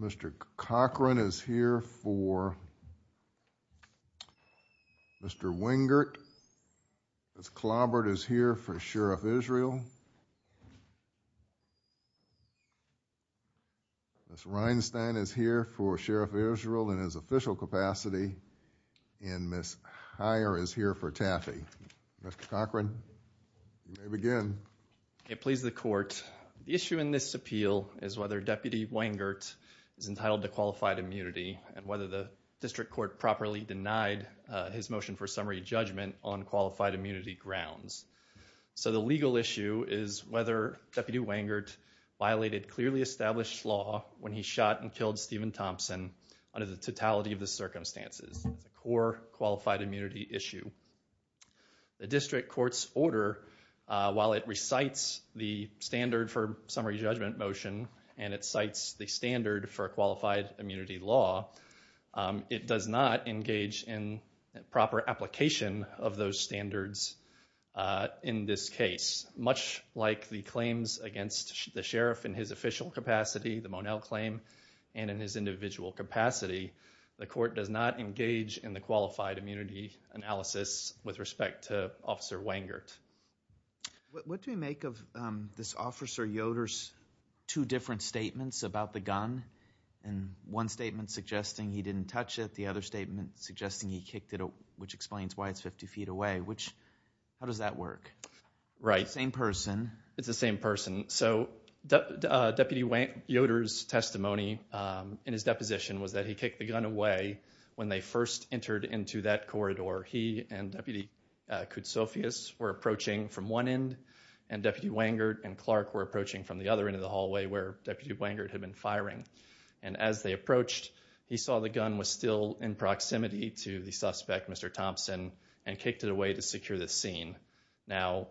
Mr. Cochran is here for Mr. Wengert Mr. Clobbert is here for Sheriff Israel Ms. Rienstein is here for Sheriff Israel in his official capacity and Ms. Heyer is here for Taffe. Mr. Cochran, you may begin. Mr. Cochran It pleases the court, the issue in this appeal is whether Deputy Wengert is entitled to qualified immunity and whether the district court properly denied his motion for summary judgment on qualified immunity grounds. So the legal issue is whether Deputy Wengert violated clearly established law when he shot and killed Stephen Thompson under the totality of the circumstances, a core qualified immunity issue. The district court's order, while it recites the standard for summary judgment motion and it cites the standard for qualified immunity law, it does not engage in proper application of those standards in this case. Much like the claims against the sheriff in his official capacity, the Monell claim, and in his individual capacity, the court does not engage in the qualified immunity analysis with respect to Officer Wengert. Mr. Clobbert What do we make of this Officer Yoder's two different statements about the gun? One statement suggesting he didn't touch it, the other statement suggesting he kicked it which explains why it's 50 feet away, which, how does that work? Same person. It's the same person. So Deputy Yoder's testimony in his deposition was that he kicked the gun away when they first entered into that corridor. He and Deputy Koutsoufias were approaching from one end and Deputy Wengert and Clark were approaching from the other end of the hallway where Deputy Wengert had been firing. And as they approached, he saw the gun was still in proximity to the suspect, Mr. Thompson, and kicked it away to secure the scene. Now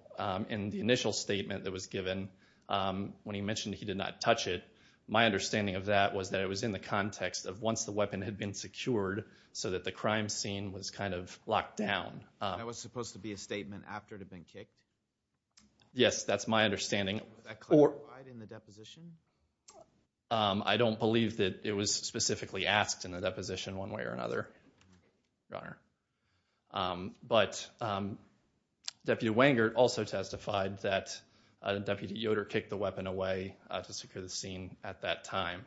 in the initial statement that was given, when he mentioned he did not touch it, my understanding of that was that it was in the context of once the weapon had been secured so that the crime scene was kind of locked down. That was supposed to be a statement after it had been kicked? Yes, that's my understanding. Was that clarified in the deposition? I don't believe that it was specifically asked in the deposition in one way or another, Your Honor. But Deputy Wengert also testified that Deputy Yoder kicked the weapon away to secure the scene at that time.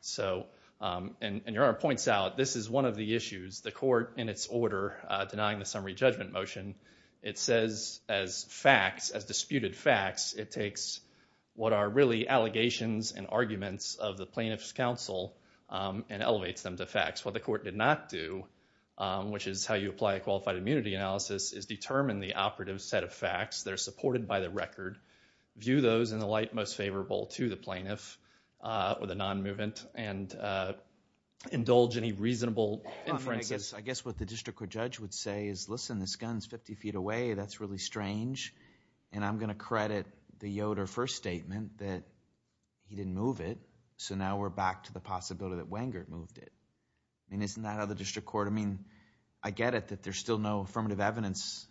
So and Your Honor points out, this is one of the issues. The court in its order denying the summary judgment motion, it says as facts, as disputed allegations and arguments of the plaintiff's counsel and elevates them to facts. What the court did not do, which is how you apply a qualified immunity analysis, is determine the operative set of facts that are supported by the record, view those in the light most favorable to the plaintiff or the non-movement, and indulge any reasonable inferences... I guess what the district court judge would say is, listen, this gun is fifty feet away, that's really strange. And I'm going to credit the Yoder first statement that he didn't move it, so now we're back to the possibility that Wengert moved it. I mean, isn't that how the district court... I mean, I get it that there's still no affirmative evidence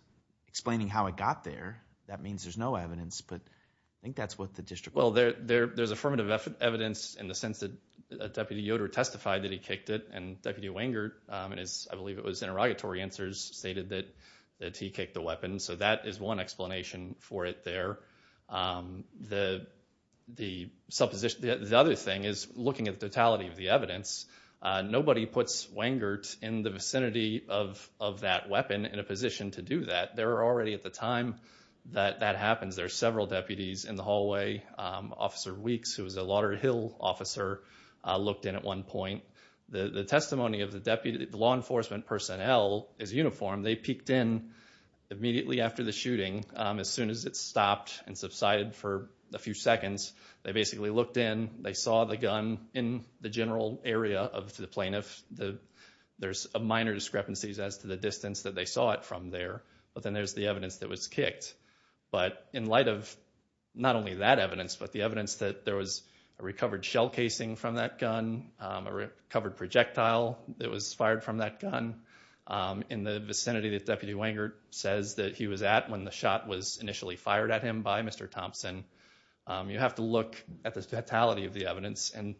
explaining how it got there. That means there's no evidence, but I think that's what the district... Well, there's affirmative evidence in the sense that Deputy Yoder testified that he kicked it, and Deputy Wengert, in his, I believe it was interrogatory answers, stated that he kicked the weapon. So that is one explanation for it there. The other thing is, looking at the totality of the evidence, nobody puts Wengert in the vicinity of that weapon in a position to do that. There are already at the time that that happens, there are several deputies in the hallway. Officer Weeks, who was a Lauderdale officer, looked in at one point. The testimony of the law enforcement personnel is uniform. They peeked in immediately after the shooting. As soon as it stopped and subsided for a few seconds, they basically looked in, they saw the gun in the general area of the plaintiff. There's minor discrepancies as to the distance that they saw it from there, but then there's the evidence that it was kicked. But in light of not only that evidence, but the evidence that there was a recovered shell Wengert says that he was at when the shot was initially fired at him by Mr. Thompson, you have to look at the totality of the evidence and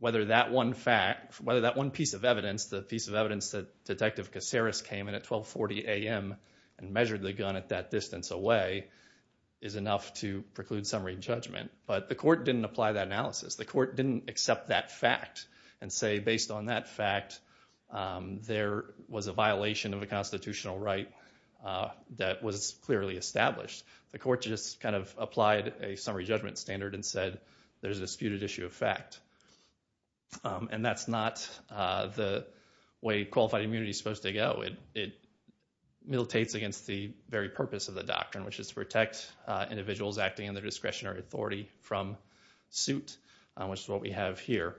whether that one fact, whether that one piece of evidence, the piece of evidence that Detective Caceres came in at 1240 AM and measured the gun at that distance away, is enough to preclude summary judgment. But the court didn't apply that analysis. The court didn't accept that fact and say, based on that fact, there was a violation of a constitutional right that was clearly established. The court just kind of applied a summary judgment standard and said there's a disputed issue of fact. And that's not the way qualified immunity is supposed to go. It militates against the very purpose of the doctrine, which is to protect individuals acting under discretionary authority from suit, which is what we have here.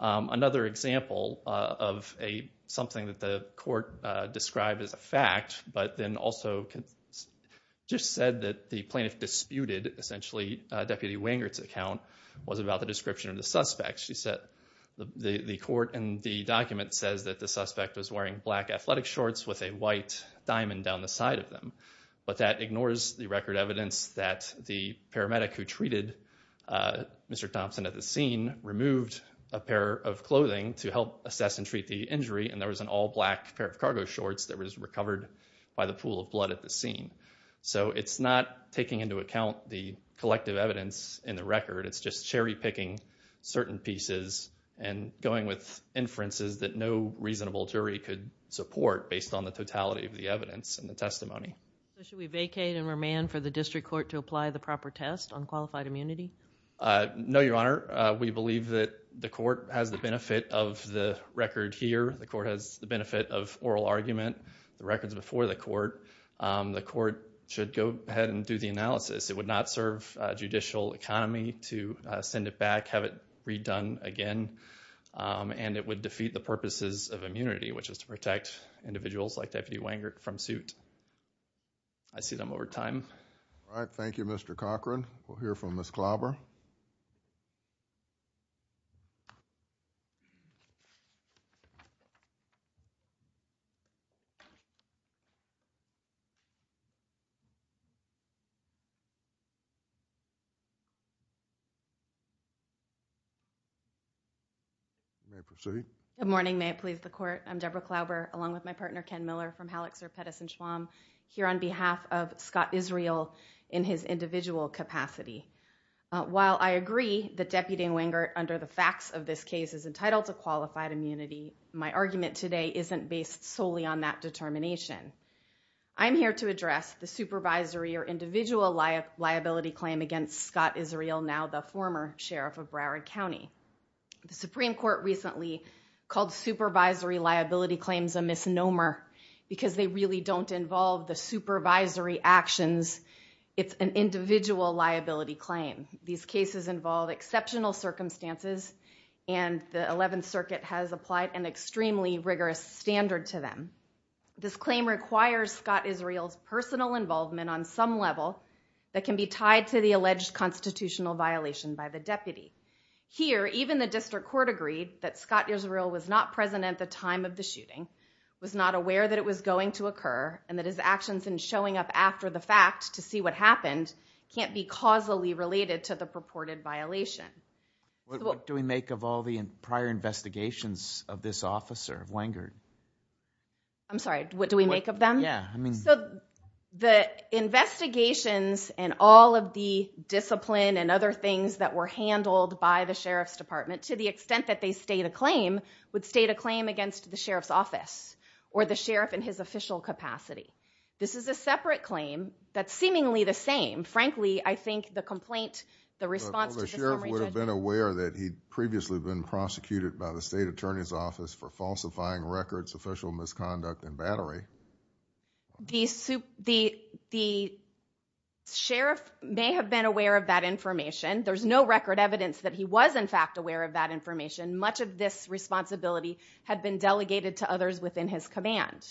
Another example of something that the court described as a fact, but then also just said that the plaintiff disputed, essentially, Deputy Wengert's account, was about the description of the suspect. She said the court in the document says that the suspect was wearing black athletic shorts with a white diamond down the side of them. But that ignores the record evidence that the paramedic who treated Mr. Thompson at the scene was wearing a pair of clothing to help assess and treat the injury, and there was an all-black pair of cargo shorts that was recovered by the pool of blood at the scene. So it's not taking into account the collective evidence in the record. It's just cherry-picking certain pieces and going with inferences that no reasonable jury could support based on the totality of the evidence and the testimony. So should we vacate and remand for the district court to apply the proper test on qualified immunity? No, Your Honor. We believe that the court has the benefit of the record here. The court has the benefit of oral argument, the records before the court. The court should go ahead and do the analysis. It would not serve judicial economy to send it back, have it redone again, and it would defeat the purposes of immunity, which is to protect individuals like Deputy Wengert from suit. I see them over time. All right. Thank you, Mr. Cochran. We'll hear from Ms. Klauber. Good morning. May it please the Court. I'm Deborah Klauber, along with my partner Ken Miller from Halleck, Zurp, Pettis and While I agree that Deputy Wengert, under the facts of this case, is entitled to qualified immunity, my argument today isn't based solely on that determination. I'm here to address the supervisory or individual liability claim against Scott Israel, now the former sheriff of Broward County. The Supreme Court recently called supervisory liability claims a misnomer because they really don't involve the supervisory actions. It's an individual liability claim. These cases involve exceptional circumstances and the 11th Circuit has applied an extremely rigorous standard to them. This claim requires Scott Israel's personal involvement on some level that can be tied to the alleged constitutional violation by the deputy. Here, even the district court agreed that Scott Israel was not present at the time of the shooting, was not aware that it was going to occur, and that his actions in showing up after the fact to see what happened can't be causally related to the purported violation. What do we make of all the prior investigations of this officer, Wengert? I'm sorry, what do we make of them? Yeah, I mean... So, the investigations and all of the discipline and other things that were handled by the sheriff's department, to the extent that they state a claim, would state a claim against the sheriff's office or the sheriff in his official capacity. This is a separate claim that's seemingly the same. Frankly, I think the complaint, the response to the summary judge... Well, the sheriff would have been aware that he'd previously been prosecuted by the state attorney's office for falsifying records, official misconduct, and battery. The sheriff may have been aware of that information. There's no record evidence that he was, in fact, aware of that information. Much of this responsibility had been delegated to others within his command.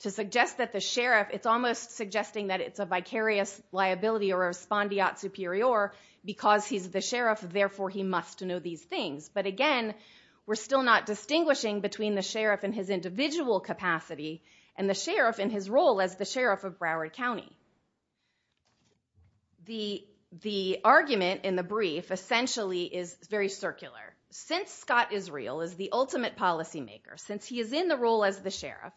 To suggest that the sheriff... It's almost suggesting that it's a vicarious liability or a spondiot superior, because he's the sheriff, therefore he must know these things. But again, we're still not distinguishing between the sheriff in his individual capacity and the sheriff in his role as the sheriff of Broward County. The argument in the brief essentially is very circular. Since Scott Israel is the ultimate policymaker, since he is in the role as the sheriff,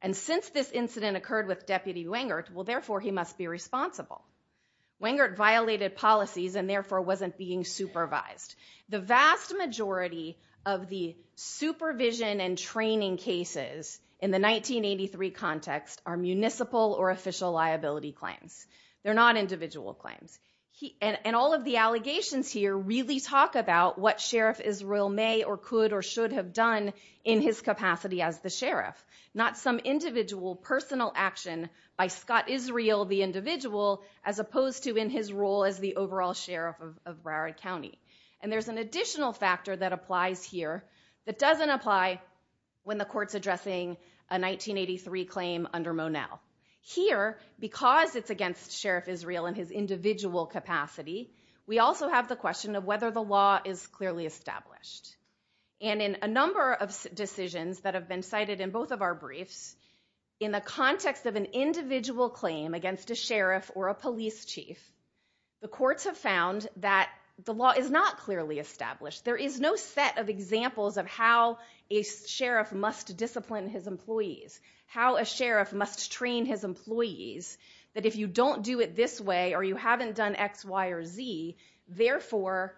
and since this incident occurred with Deputy Wengert, therefore he must be responsible. Wengert violated policies and therefore wasn't being supervised. The vast majority of the supervision and training cases in the 1983 context are municipal or official liability claims. They're not individual claims. And all of the allegations here really talk about what Sheriff Israel may or could or should have done in his capacity as the sheriff. Not some individual personal action by Scott Israel, the individual, as opposed to in his role as the overall sheriff of Broward County. And there's an additional factor that applies here that doesn't apply when the court's addressing a 1983 claim under Monell. Here, because it's against Sheriff Israel in his individual capacity, we also have the question of whether the law is clearly established. And in a number of decisions that have been cited in both of our briefs, in the context of an individual claim against a sheriff or a police chief, the courts have found that the law is not clearly established. There is no set of examples of how a sheriff must discipline his employees, how a sheriff must train his employees, that if you don't do it this way or you haven't done X, Y, or Z, therefore,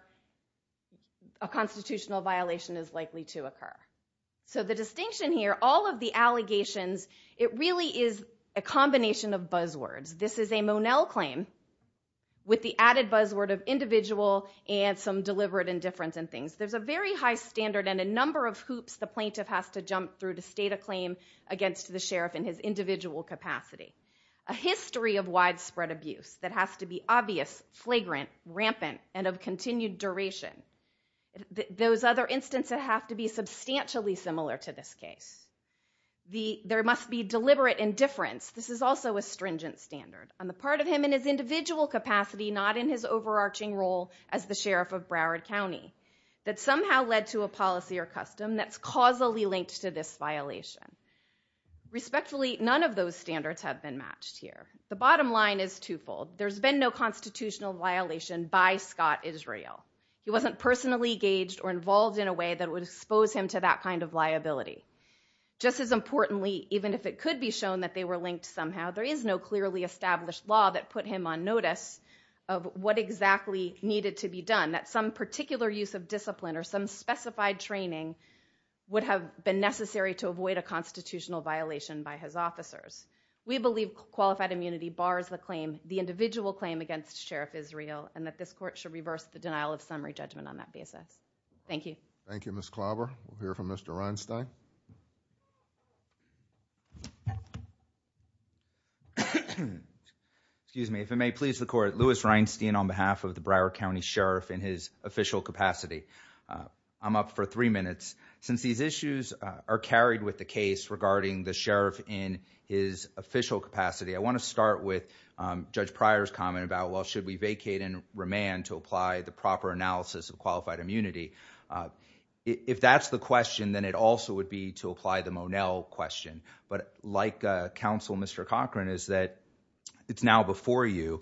a constitutional violation is likely to occur. So the distinction here, all of the allegations, it really is a combination of buzzwords. This is a Monell claim with the added buzzword of individual and some deliberate indifference and things. There's a very high standard and a number of hoops the plaintiff has to jump through to state a claim against the sheriff in his individual capacity. A history of widespread abuse that has to be obvious, flagrant, rampant, and of continued duration. Those other instances have to be substantially similar to this case. There must be deliberate indifference. This is also a stringent standard. On the part of him in his individual capacity, not in his overarching role as the sheriff of Broward County, that somehow led to a policy or custom that's causally linked to this violation. Respectfully, none of those standards have been matched here. The bottom line is twofold. There's been no constitutional violation by Scott Israel. He wasn't personally engaged or involved in a way that would expose him to that kind of liability. Just as importantly, even if it could be shown that they were linked somehow, there is no clearly established law that put him on notice of what exactly needed to be done. That some particular use of discipline or some specified training would have been necessary to avoid a constitutional violation by his officers. We believe qualified immunity bars the claim, the individual claim against Sheriff Israel, and that this court should reverse the denial of summary judgment on that basis. Thank you. Thank you, Ms. Klobber. We'll hear from Mr. Reinstein. Excuse me. If it may please the court, Louis Reinstein on behalf of the Broward County Sheriff in his official capacity. I'm up for three minutes. Since these issues are carried with the case regarding the sheriff in his official capacity, I want to start with Judge Pryor's comment about, well, should we vacate and remand to apply the proper analysis of qualified immunity? If that's the question, then it also would be to apply the Monell question. But like Counsel, Mr. Cochran, is that it's now before you.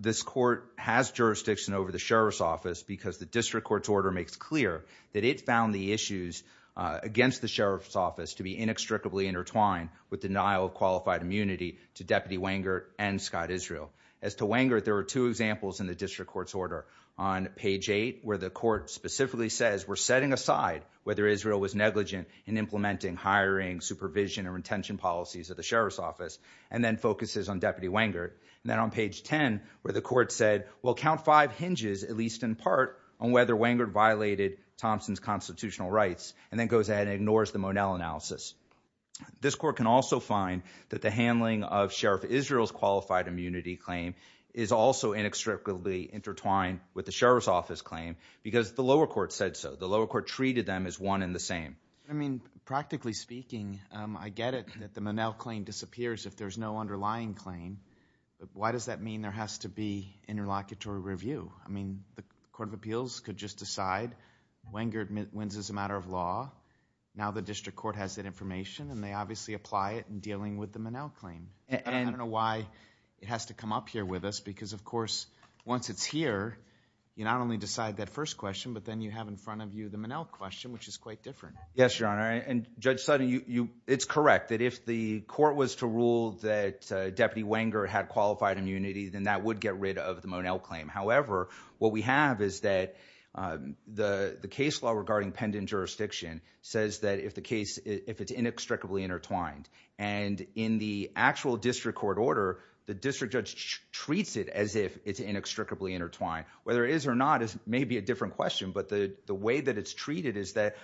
This court has jurisdiction over the sheriff's office because the district court's order makes clear that it found the issues against the sheriff's office to be inextricably intertwined with denial of qualified immunity to Deputy Wenger and Scott Israel. As to Wenger, there are two examples in the district court's order. On page eight, where the court specifically says, we're setting aside whether Israel was negligent in implementing, hiring, supervision and retention policies of the sheriff's office and then focuses on Deputy Wenger. And then on page 10, where the court said, well, count five hinges, at least in part on whether Wenger violated Thompson's constitutional rights and then goes ahead and ignores the Monell analysis. This court can also find that the handling of Sheriff Israel's qualified immunity claim is also inextricably intertwined with the sheriff's office claim because the lower court said so. The lower court treated them as one in the same. I mean, practically speaking, I get it that the Monell claim disappears if there's no underlying claim. Why does that mean there has to be interlocutory review? I mean, the court of appeals could just decide Wenger wins as a matter of law. Now the district court has that information and they obviously apply it in dealing with the Monell claim. I don't know why it has to come up here with us because, of course, once it's here, you not only decide that first question, but then you have in front of you the Monell question, which is quite different. Yes, Your Honor, and Judge Sutton, it's correct that if the court was to rule that Deputy Wenger had qualified immunity, then that would get rid of the Monell claim. However, what we have is that the case law regarding pendent jurisdiction says that if the case, if it's inextricably intertwined, and in the actual district court order, the district judge treats it as if it's inextricably intertwined. Whether it is or not is maybe a different question, but the way that it's treated is that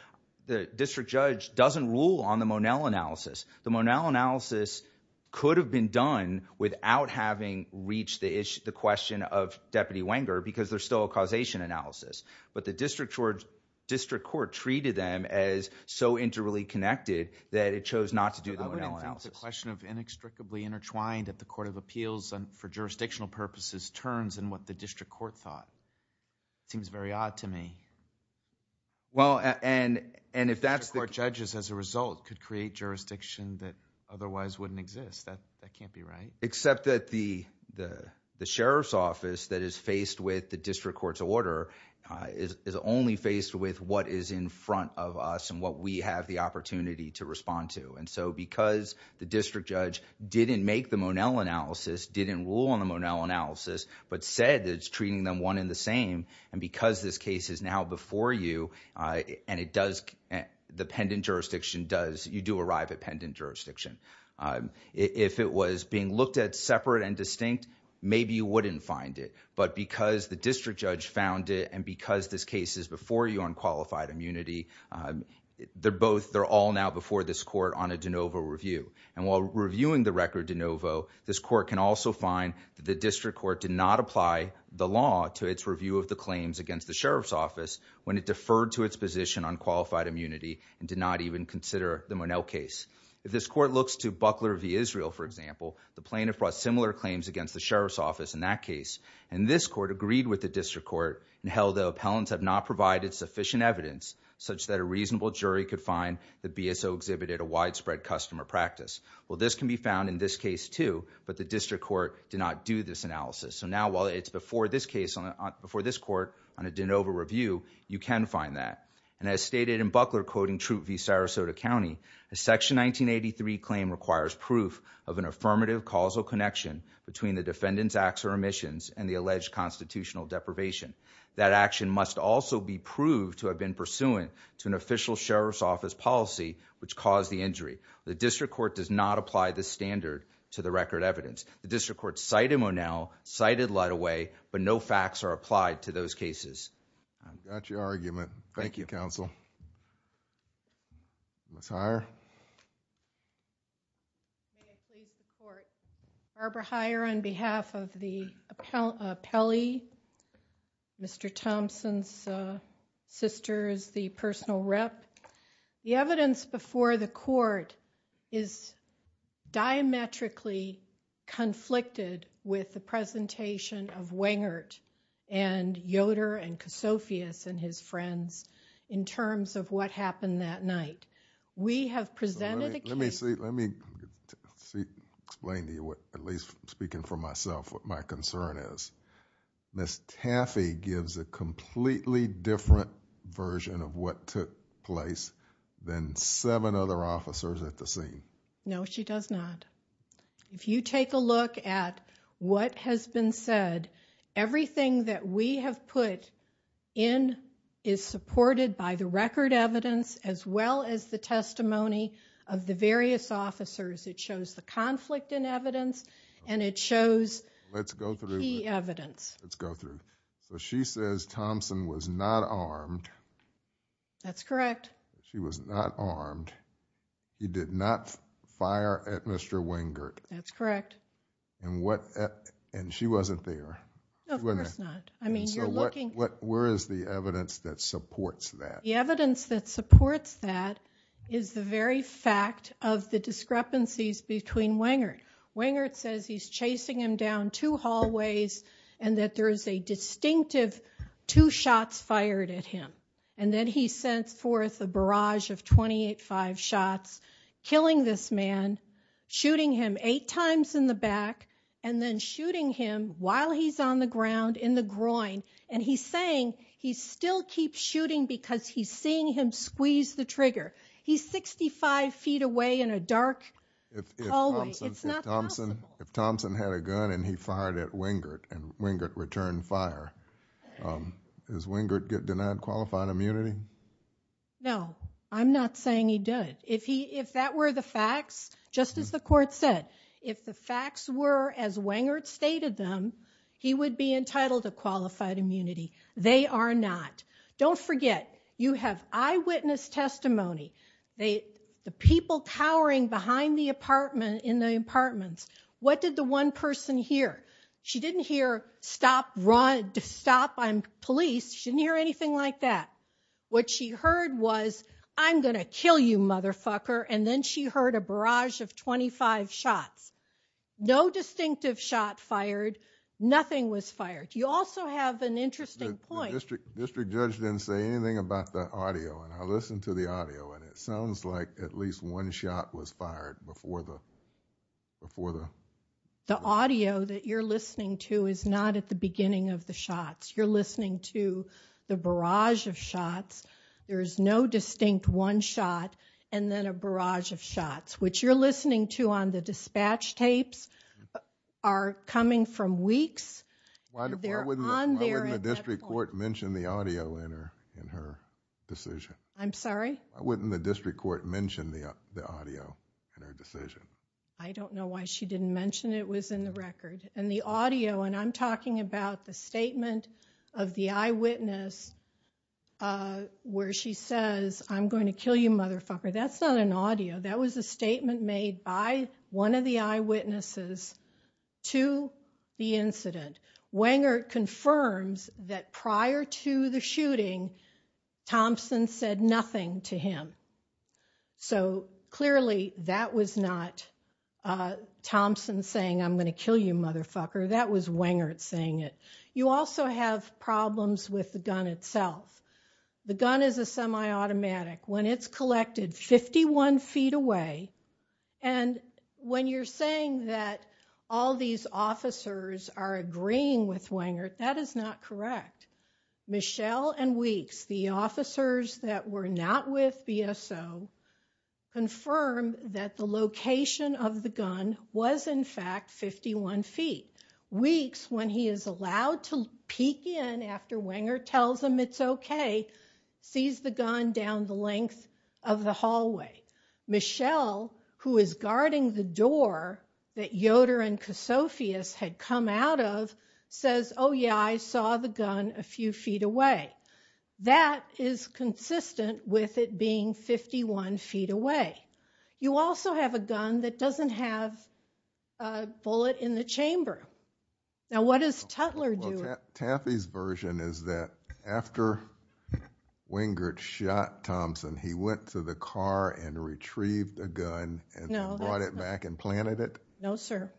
the district judge doesn't rule on the Monell analysis. The Monell analysis could have been done without having reached the question of Deputy Wenger because there's still a causation analysis, but the district court treated them as so interrelatedly connected that it chose not to do the Monell analysis. The question of inextricably intertwined at the court of appeals and for jurisdictional purposes turns in what the district court thought. It seems very odd to me. Well, and if that's the... District court judges as a result could create jurisdiction that otherwise wouldn't exist. That can't be right. Except that the sheriff's office that is faced with the district court's order is only faced with what is in front of us and what we have the opportunity to respond to, and so because the district judge didn't make the Monell analysis, didn't rule on the Monell analysis, but said that it's treating them one and the same, and because this case is now before you and it does... the pendant jurisdiction does... you do arrive at pendant jurisdiction. If it was being looked at separate and distinct, maybe you wouldn't find it, but because the district judge found it and because this case is before you on qualified immunity, they're both... they're all now before this court on a de novo review, and while reviewing the record de novo, this court can also find that the district court did not apply the law to its review of the claims against the sheriff's office when it deferred to its position on qualified immunity and did not even consider the Monell case. If this court looks to Buckler v. Israel, for example, the plaintiff brought similar claims against the sheriff's office in that case, and this court agreed with the district court and held the appellants have not provided sufficient evidence such that a reasonable jury could find that BSO exhibited a widespread customer practice. Well, this can be found in this case, too, but the district court did not do this analysis. So now, while it's before this case on... before this court on a de novo review, you can find that, and as stated in Buckler quoting Troop v. Sarasota County, a Section 1983 claim requires proof of an affirmative causal connection between the defendant's acts or omissions and the alleged constitutional deprivation. That action must also be proved to have been pursuant to an official sheriff's office policy which caused the injury. The district court does not apply this standard to the record evidence. The district court cited Monell, cited Luddoway, but no facts are applied to those cases. I've got your argument. Thank you, counsel. Ms. Heyer? May I please support Barbara Heyer on behalf of the appellee, Mr. Thompson's sister as the personal rep? The evidence before the court is diametrically conflicted with the presentation of Wengert and Yoder and Kosofius and his friends in terms of what happened that night. We have presented a case... Let me explain to you, at least speaking for myself, what my concern is. Ms. Taffey gives a completely different version of what took place than seven other officers at the scene. No, she does not. If you take a look at what has been said, everything that we have put in is supported by the record evidence as well as the testimony of the various officers. It shows the conflict in evidence and it shows key evidence. Let's go through. She says Thompson was not armed. That's correct. She was not armed. He did not fire at Mr. Wengert. That's correct. And she wasn't there. Of course not. Where is the evidence that supports that? The evidence that supports that is the very fact of the discrepancies between Wengert. Wengert says he's chasing him down two hallways and that there is a distinctive two shots fired at him. And then he sends forth a barrage of 28-5 shots, killing this man, shooting him eight times in the back, and then shooting him while he's on the ground in the groin. And he's saying he still keeps shooting because he's seeing him squeeze the trigger. He's 65 feet away in a dark hallway. It's not possible. If Thompson had a gun and he fired at Wengert and Wengert returned fire, does Wengert get denied qualified immunity? No, I'm not saying he did. If that were the facts, just as the court said, if the facts were as Wengert stated them, he would be entitled to qualified immunity. They are not. Don't forget, you have eyewitness testimony. The people cowering behind the apartment in the apartments, what did the one person hear? She didn't hear, stop, run, stop, I'm police. She didn't hear anything like that. What she heard was, I'm going to kill you, motherfucker, and then she heard a barrage of 25 shots. No distinctive shot fired, nothing was fired. You also have an interesting point... The district judge didn't say anything about the audio, and I listened to the audio, and it sounds like at least one shot was fired before the... The audio that you're listening to is not at the beginning of the shots. You're listening to the barrage of shots. There is no distinct one shot and then a barrage of shots, which you're listening to on the dispatch tapes, are coming from weeks. Why wouldn't the district court mention the audio in her decision? I'm sorry? Why wouldn't the district court mention the audio in her decision? I don't know why she didn't mention it was in the record. The audio, and I'm talking about the statement of the eyewitness where she says, I'm going to kill you, motherfucker. That's not an audio. That was a statement made by one of the eyewitnesses to the incident. Wangert confirms that prior to the shooting, Thompson said nothing to him. So, clearly, that was not Thompson saying, I'm going to kill you, motherfucker. That was Wangert saying it. You also have problems with the gun itself. The gun is a semi-automatic. When it's collected 51 feet away, and when you're saying that all these officers are agreeing with Wangert, that is not correct. Michelle and Weeks, the officers that were not with BSO, confirmed that the location of the gun was, in fact, 51 feet. Weeks, when he is allowed to peek in after Wangert tells him it's okay, sees the gun down the length of the hallway. Michelle, who is guarding the door that Yoder and Kosofius had come out of, says, oh, yeah, I saw the gun a few feet away. That is consistent with it being 51 feet away. You also have a gun that doesn't have a bullet in the chamber. Now, what is Tutler doing? Taffy's version is that after Wangert shot Thompson, he went to the car and retrieved a gun and brought it back and planted it? No, sir.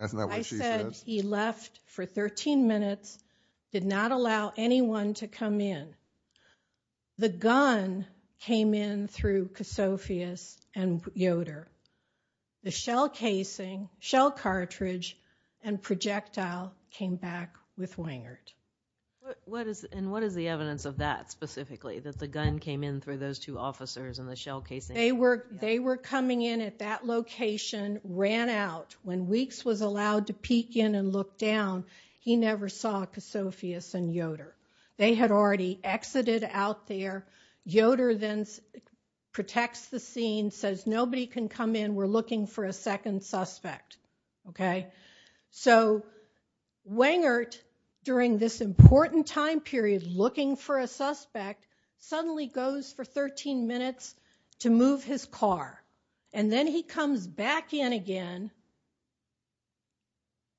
That's not what she says? I said he left for 13 minutes, did not allow anyone to come in. The gun came in through Kosofius and Yoder. The shell casing, shell cartridge, and projectile came back with Wangert. What is the evidence of that specifically, that the gun came in through those two officers and the shell casing? They were coming in at that location, ran out. When Weeks was allowed to peek in and look down, he never saw Kosofius and Yoder. They had already exited out there. Yoder then protects the scene, says, nobody can come in, we're looking for a second suspect. Wangert, during this important time period, looking for a suspect, suddenly goes for 13 minutes to move his car. Then he comes back in again,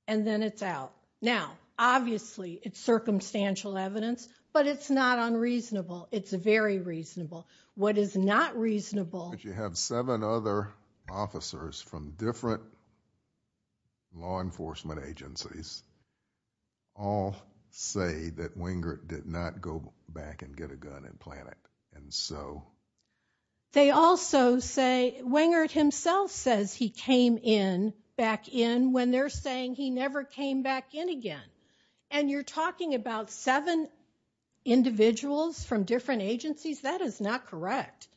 and then it's out. Now, obviously, it's circumstantial evidence, but it's not unreasonable. It's very reasonable. What is not reasonable... But you have seven other officers from different law enforcement agencies all say that Wangert did not go back and get a gun and plant it. They also say, Wangert himself says he came back in when they're saying he never came back in again. And you're talking about seven individuals from different agencies? That is not correct.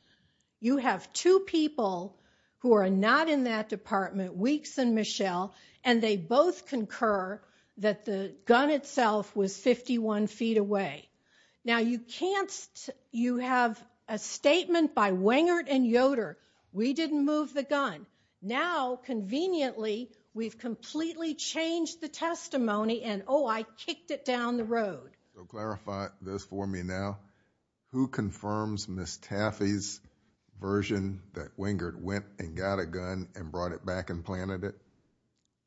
You have two people who are not in that department, Weeks and Michelle, and they both concur that the gun itself was 51 feet away. Now, you have a statement by Wangert and Yoder, we didn't move the gun. Now, conveniently, we've completely changed the testimony and, oh, I kicked it down the road. Clarify this for me now. Who confirms Ms. Taffy's version that Wangert went and got a gun and brought it back and planted it?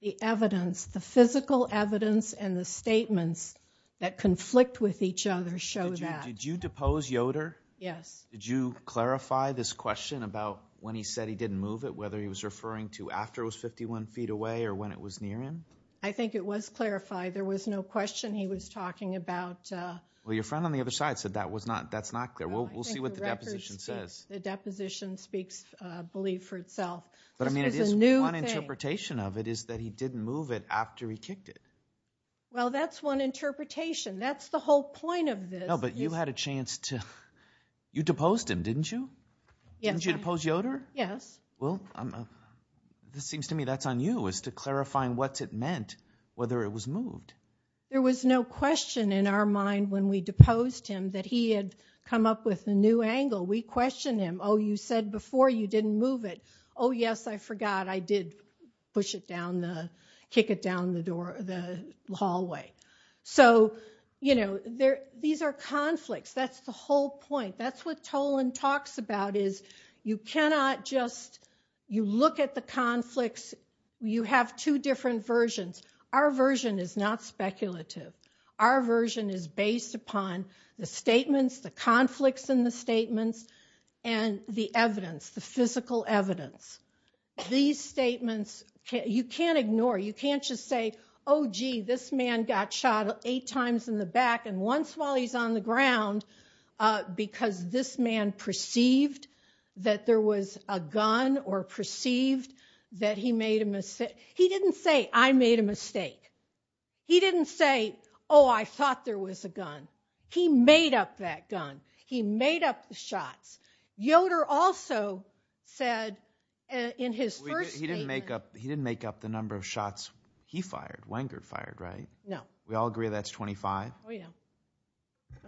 The evidence, the physical evidence and the statements that conflict with each other show that. Did you depose Yoder? Yes. Did you clarify this question about when he said he didn't move it, whether he was referring to after it was 51 feet away or when it was near him? I think it was clarified. There was no question he was talking about. Well, your friend on the other side said that's not clear. We'll see what the deposition says. The deposition speaks, I believe, for itself. But, I mean, it is one interpretation of it is that he didn't move it after he kicked it. Well, that's one interpretation. That's the whole point of this. No, but you had a chance to... You deposed him, didn't you? Yes. Didn't you depose Yoder? Yes. Well, this seems to me that's on you as to clarifying what it meant, whether it was moved. There was no question in our mind when we deposed him that he had come up with a new angle. We questioned him. Oh, you said before you didn't move it. Oh, yes, I forgot I did push it down the... kick it down the door... the hallway. So, you know, these are conflicts. That's the whole point. That's what Toland talks about is you cannot just... You look at the conflicts. You have two different versions. Our version is not speculative. Our version is based upon the statements, the conflicts in the statements, and the evidence, the physical evidence. These statements, you can't ignore. You can't just say, Oh, gee, this man got shot eight times in the back, and once while he's on the ground because this man perceived that there was a gun or perceived that he made a mistake. He didn't say, I made a mistake. He didn't say, Oh, I thought there was a gun. He made up that gun. He made up the shots. Yoder also said in his first statement... He didn't make up the number of shots he fired, Wenger fired, right? No. We all agree that's 25? Oh, yeah.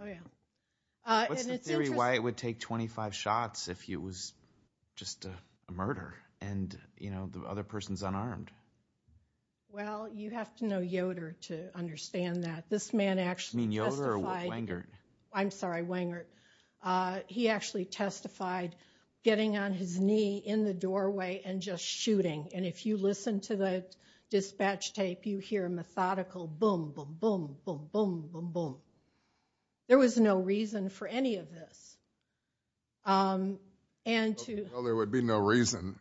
Oh, yeah. What's the theory why it would take 25 shots if it was just a murder and the other person's unarmed? Well, you have to know Yoder to understand that. This man actually testified... You mean Yoder or Wenger? I'm sorry, Wenger. He actually testified getting on his knee in the doorway and just shooting. And if you listen to the dispatch tape, you hear methodical boom, boom, boom, boom, boom, boom, boom. There was no reason for any of this. Well, there would be no reason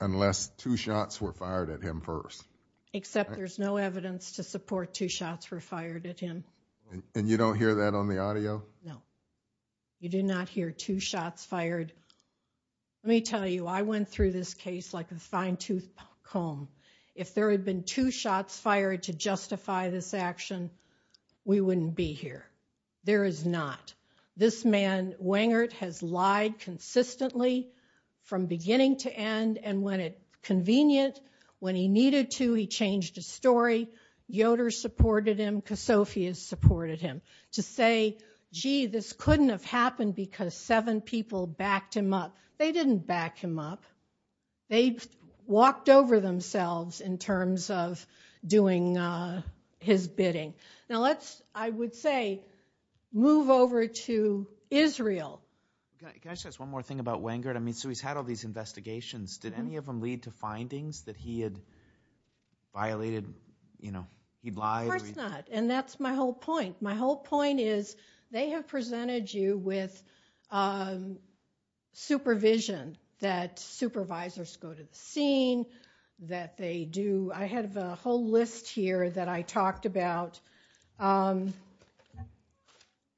unless two shots were fired at him first. Except there's no evidence to support two shots were fired at him. And you don't hear that on the audio? No. You do not hear two shots fired. Let me tell you, I went through this case like a fine-toothed comb. If there had been two shots fired to justify this action, we wouldn't be here. There is not. This man, Wenger, has lied consistently from beginning to end. And when it's convenient, when he needed to, he changed his story. Yoder supported him. Kosofius supported him. To say, gee, this couldn't have happened because seven people backed him up. They didn't back him up. They walked over themselves in terms of doing his bidding. Now let's, I would say, move over to Israel. Can I just ask one more thing about Wenger? I mean, so he's had all these investigations. Did any of them lead to findings that he had violated, you know, he'd lied? Of course not. And that's my whole point. My whole point is they have presented you with supervision, that supervisors go to the scene, that they do. I have a whole list here that I talked about.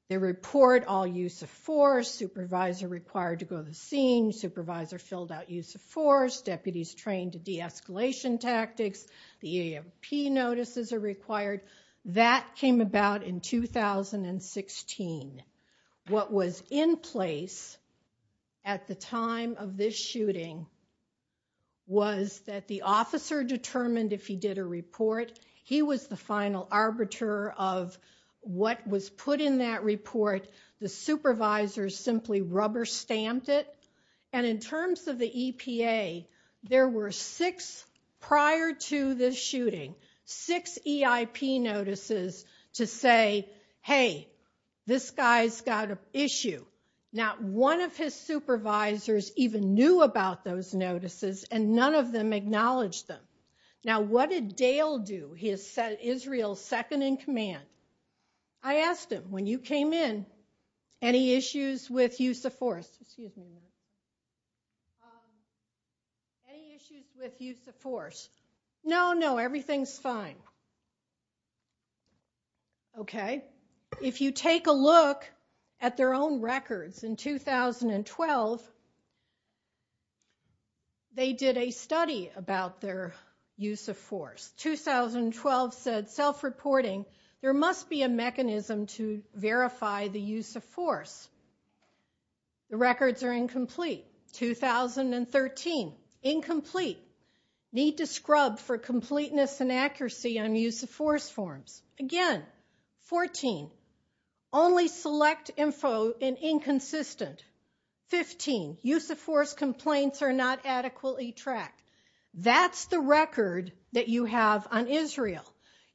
They report all use of force. Supervisor required to go to the scene. Supervisor filled out use of force. Deputies trained to de-escalation tactics. The EAMP notices are required. That came about in 2016. What was in place at the time of this shooting was that the officer determined if he did a report. He was the final arbiter of what was put in that report. The supervisors simply rubber-stamped it. And in terms of the EPA, there were six prior to this shooting, six EIP notices to say, hey, this guy's got an issue. Not one of his supervisors even knew about those notices, and none of them acknowledged them. Now, what did Dale do? He is Israel's second in command. I asked him, when you came in, any issues with use of force? Excuse me a minute. Any issues with use of force? No, no, everything's fine. Okay? If you take a look at their own records in 2012, they did a study about their use of force. 2012 said, self-reporting, there must be a mechanism to verify the use of force. The records are incomplete. 2013, incomplete. Need to scrub for completeness and accuracy on use of force forms. Again, 14, only select info in inconsistent. 15, use of force complaints are not adequately tracked. That's the record that you have on Israel.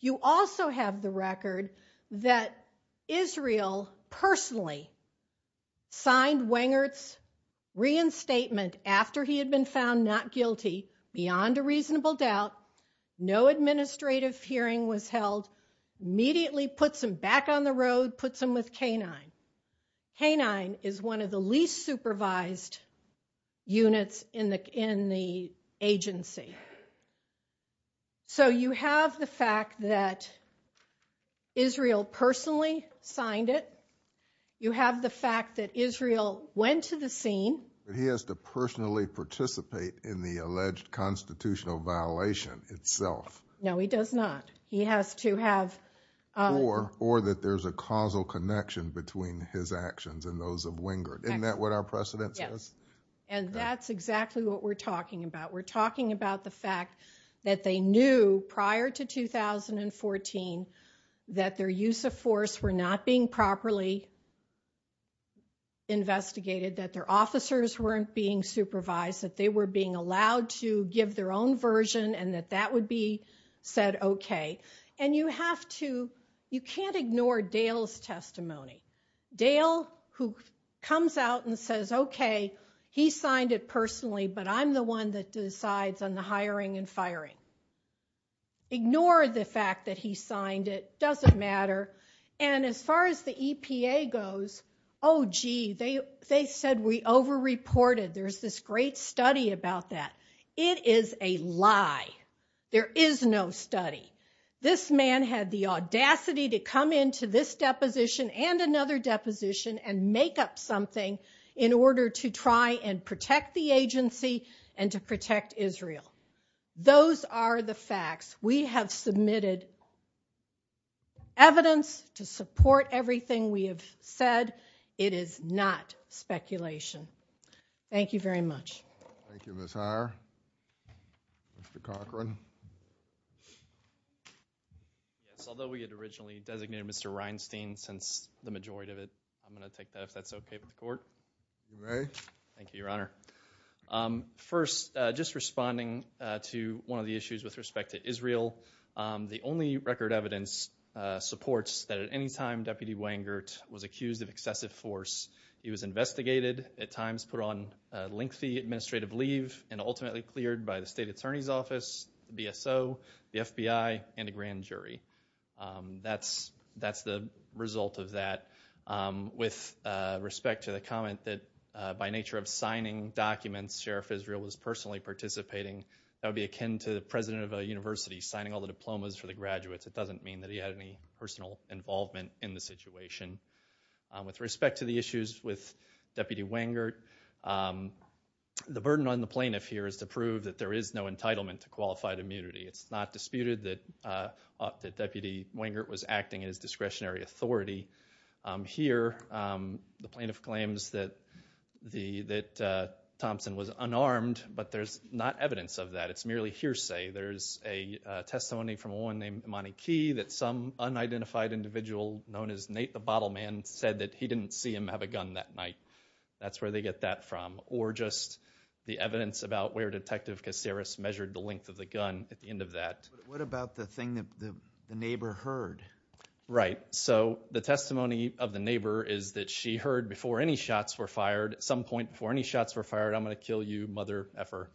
You also have the record that Israel personally signed Wengert's reinstatement after he had been found not guilty, beyond a reasonable doubt. No administrative hearing was held. Immediately puts him back on the road, puts him with K9. K9 is one of the least supervised units in the agency. So you have the fact that Israel personally signed it. You have the fact that Israel went to the scene. He has to personally participate in the alleged constitutional violation itself. No, he does not. He has to have... between his actions and those of Wengert. Isn't that what our precedent says? And that's exactly what we're talking about. We're talking about the fact that they knew prior to 2014 that their use of force were not being properly investigated. That their officers weren't being supervised. That they were being allowed to give their own version and that that would be said okay. And you have to... you can't ignore Dale's testimony. Dale, who comes out and says, okay, he signed it personally, but I'm the one that decides on the hiring and firing. Ignore the fact that he signed it. Doesn't matter. And as far as the EPA goes, oh, gee, they said we overreported. There's this great study about that. It is a lie. There is no study. This man had the audacity to come into this deposition and another deposition and make up something in order to try and protect the agency and to protect Israel. Those are the facts. We have submitted evidence to support everything we have said. It is not speculation. Thank you very much. Thank you, Ms. Heyer. Mr. Cochran. Yes, although we had originally designated Mr. Reinstein since the majority of it, I'm going to take that if that's okay with the court. You may. Thank you, Your Honor. First, just responding to one of the issues with respect to Israel, the only record evidence supports that at any time Deputy Wengert was accused of excessive force. He was investigated, at times put on lengthy administrative leave, and ultimately cleared by the State Attorney's Office, the BSO, the FBI, and a grand jury. That's the result of that. With respect to the comment that by nature of signing documents, Sheriff Israel was personally participating, that would be akin to the president of a university signing all the diplomas for the graduates. It doesn't mean that he had any personal involvement in the situation. With respect to the issues with Deputy Wengert, the burden on the plaintiff here is to prove that there is no entitlement to qualified immunity. It's not disputed that Deputy Wengert was acting as discretionary authority. Here, the plaintiff claims that Thompson was unarmed, but there's not evidence of that. It's merely hearsay. There's a testimony from a woman named Imani Key that some unidentified individual known as Nate the Bottle Man said that he didn't see him have a gun that night. That's where they get that from. Or just the evidence about where Detective Caceres measured the length of the gun at the end of that. What about the thing that the neighbor heard? Right. The testimony of the neighbor is that she heard before any shots were fired, at some point before any shots were fired, I'm going to kill you, mother effer.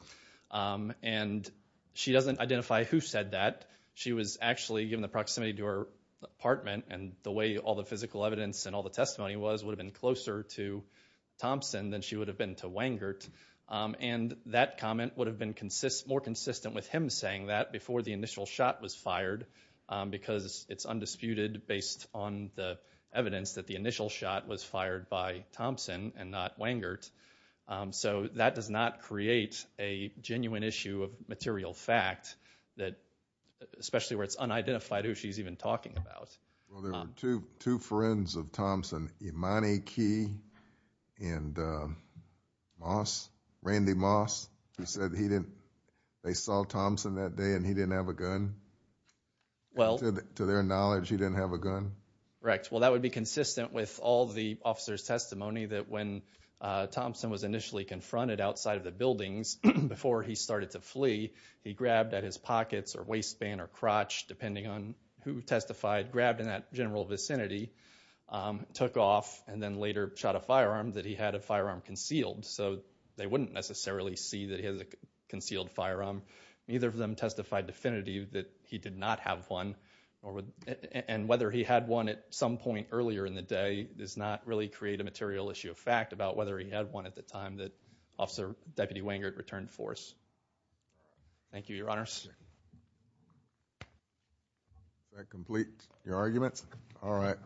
She doesn't identify who said that. She was actually given the proximity to her apartment, and the way all the physical evidence and all the testimony was would have been closer to Thompson than she would have been to Wengert. And that comment would have been more consistent with him saying that before the initial shot was fired, because it's undisputed based on the evidence that the initial shot was fired by Thompson and not Wengert. So that does not create a genuine issue of material fact, especially where it's unidentified who she's even talking about. Well, there were two friends of Thompson, Imani Key and Moss, Randy Moss, who said they saw Thompson that day and he didn't have a gun. To their knowledge, he didn't have a gun? Correct. Well, that would be consistent with all the officers' testimony that when Thompson was initially confronted outside of the buildings before he started to flee, he grabbed at his pockets or waistband or crotch, depending on who testified, grabbed in that general vicinity, took off, and then later shot a firearm, that he had a firearm concealed. So they wouldn't necessarily see that he has a concealed firearm. Neither of them testified definitively that he did not have one, and whether he had one at some point earlier in the day does not really create a material issue of fact about whether he had one at the time that Officer Deputy Wengert returned force. Thank you, Your Honors. Does that complete your argument? All right.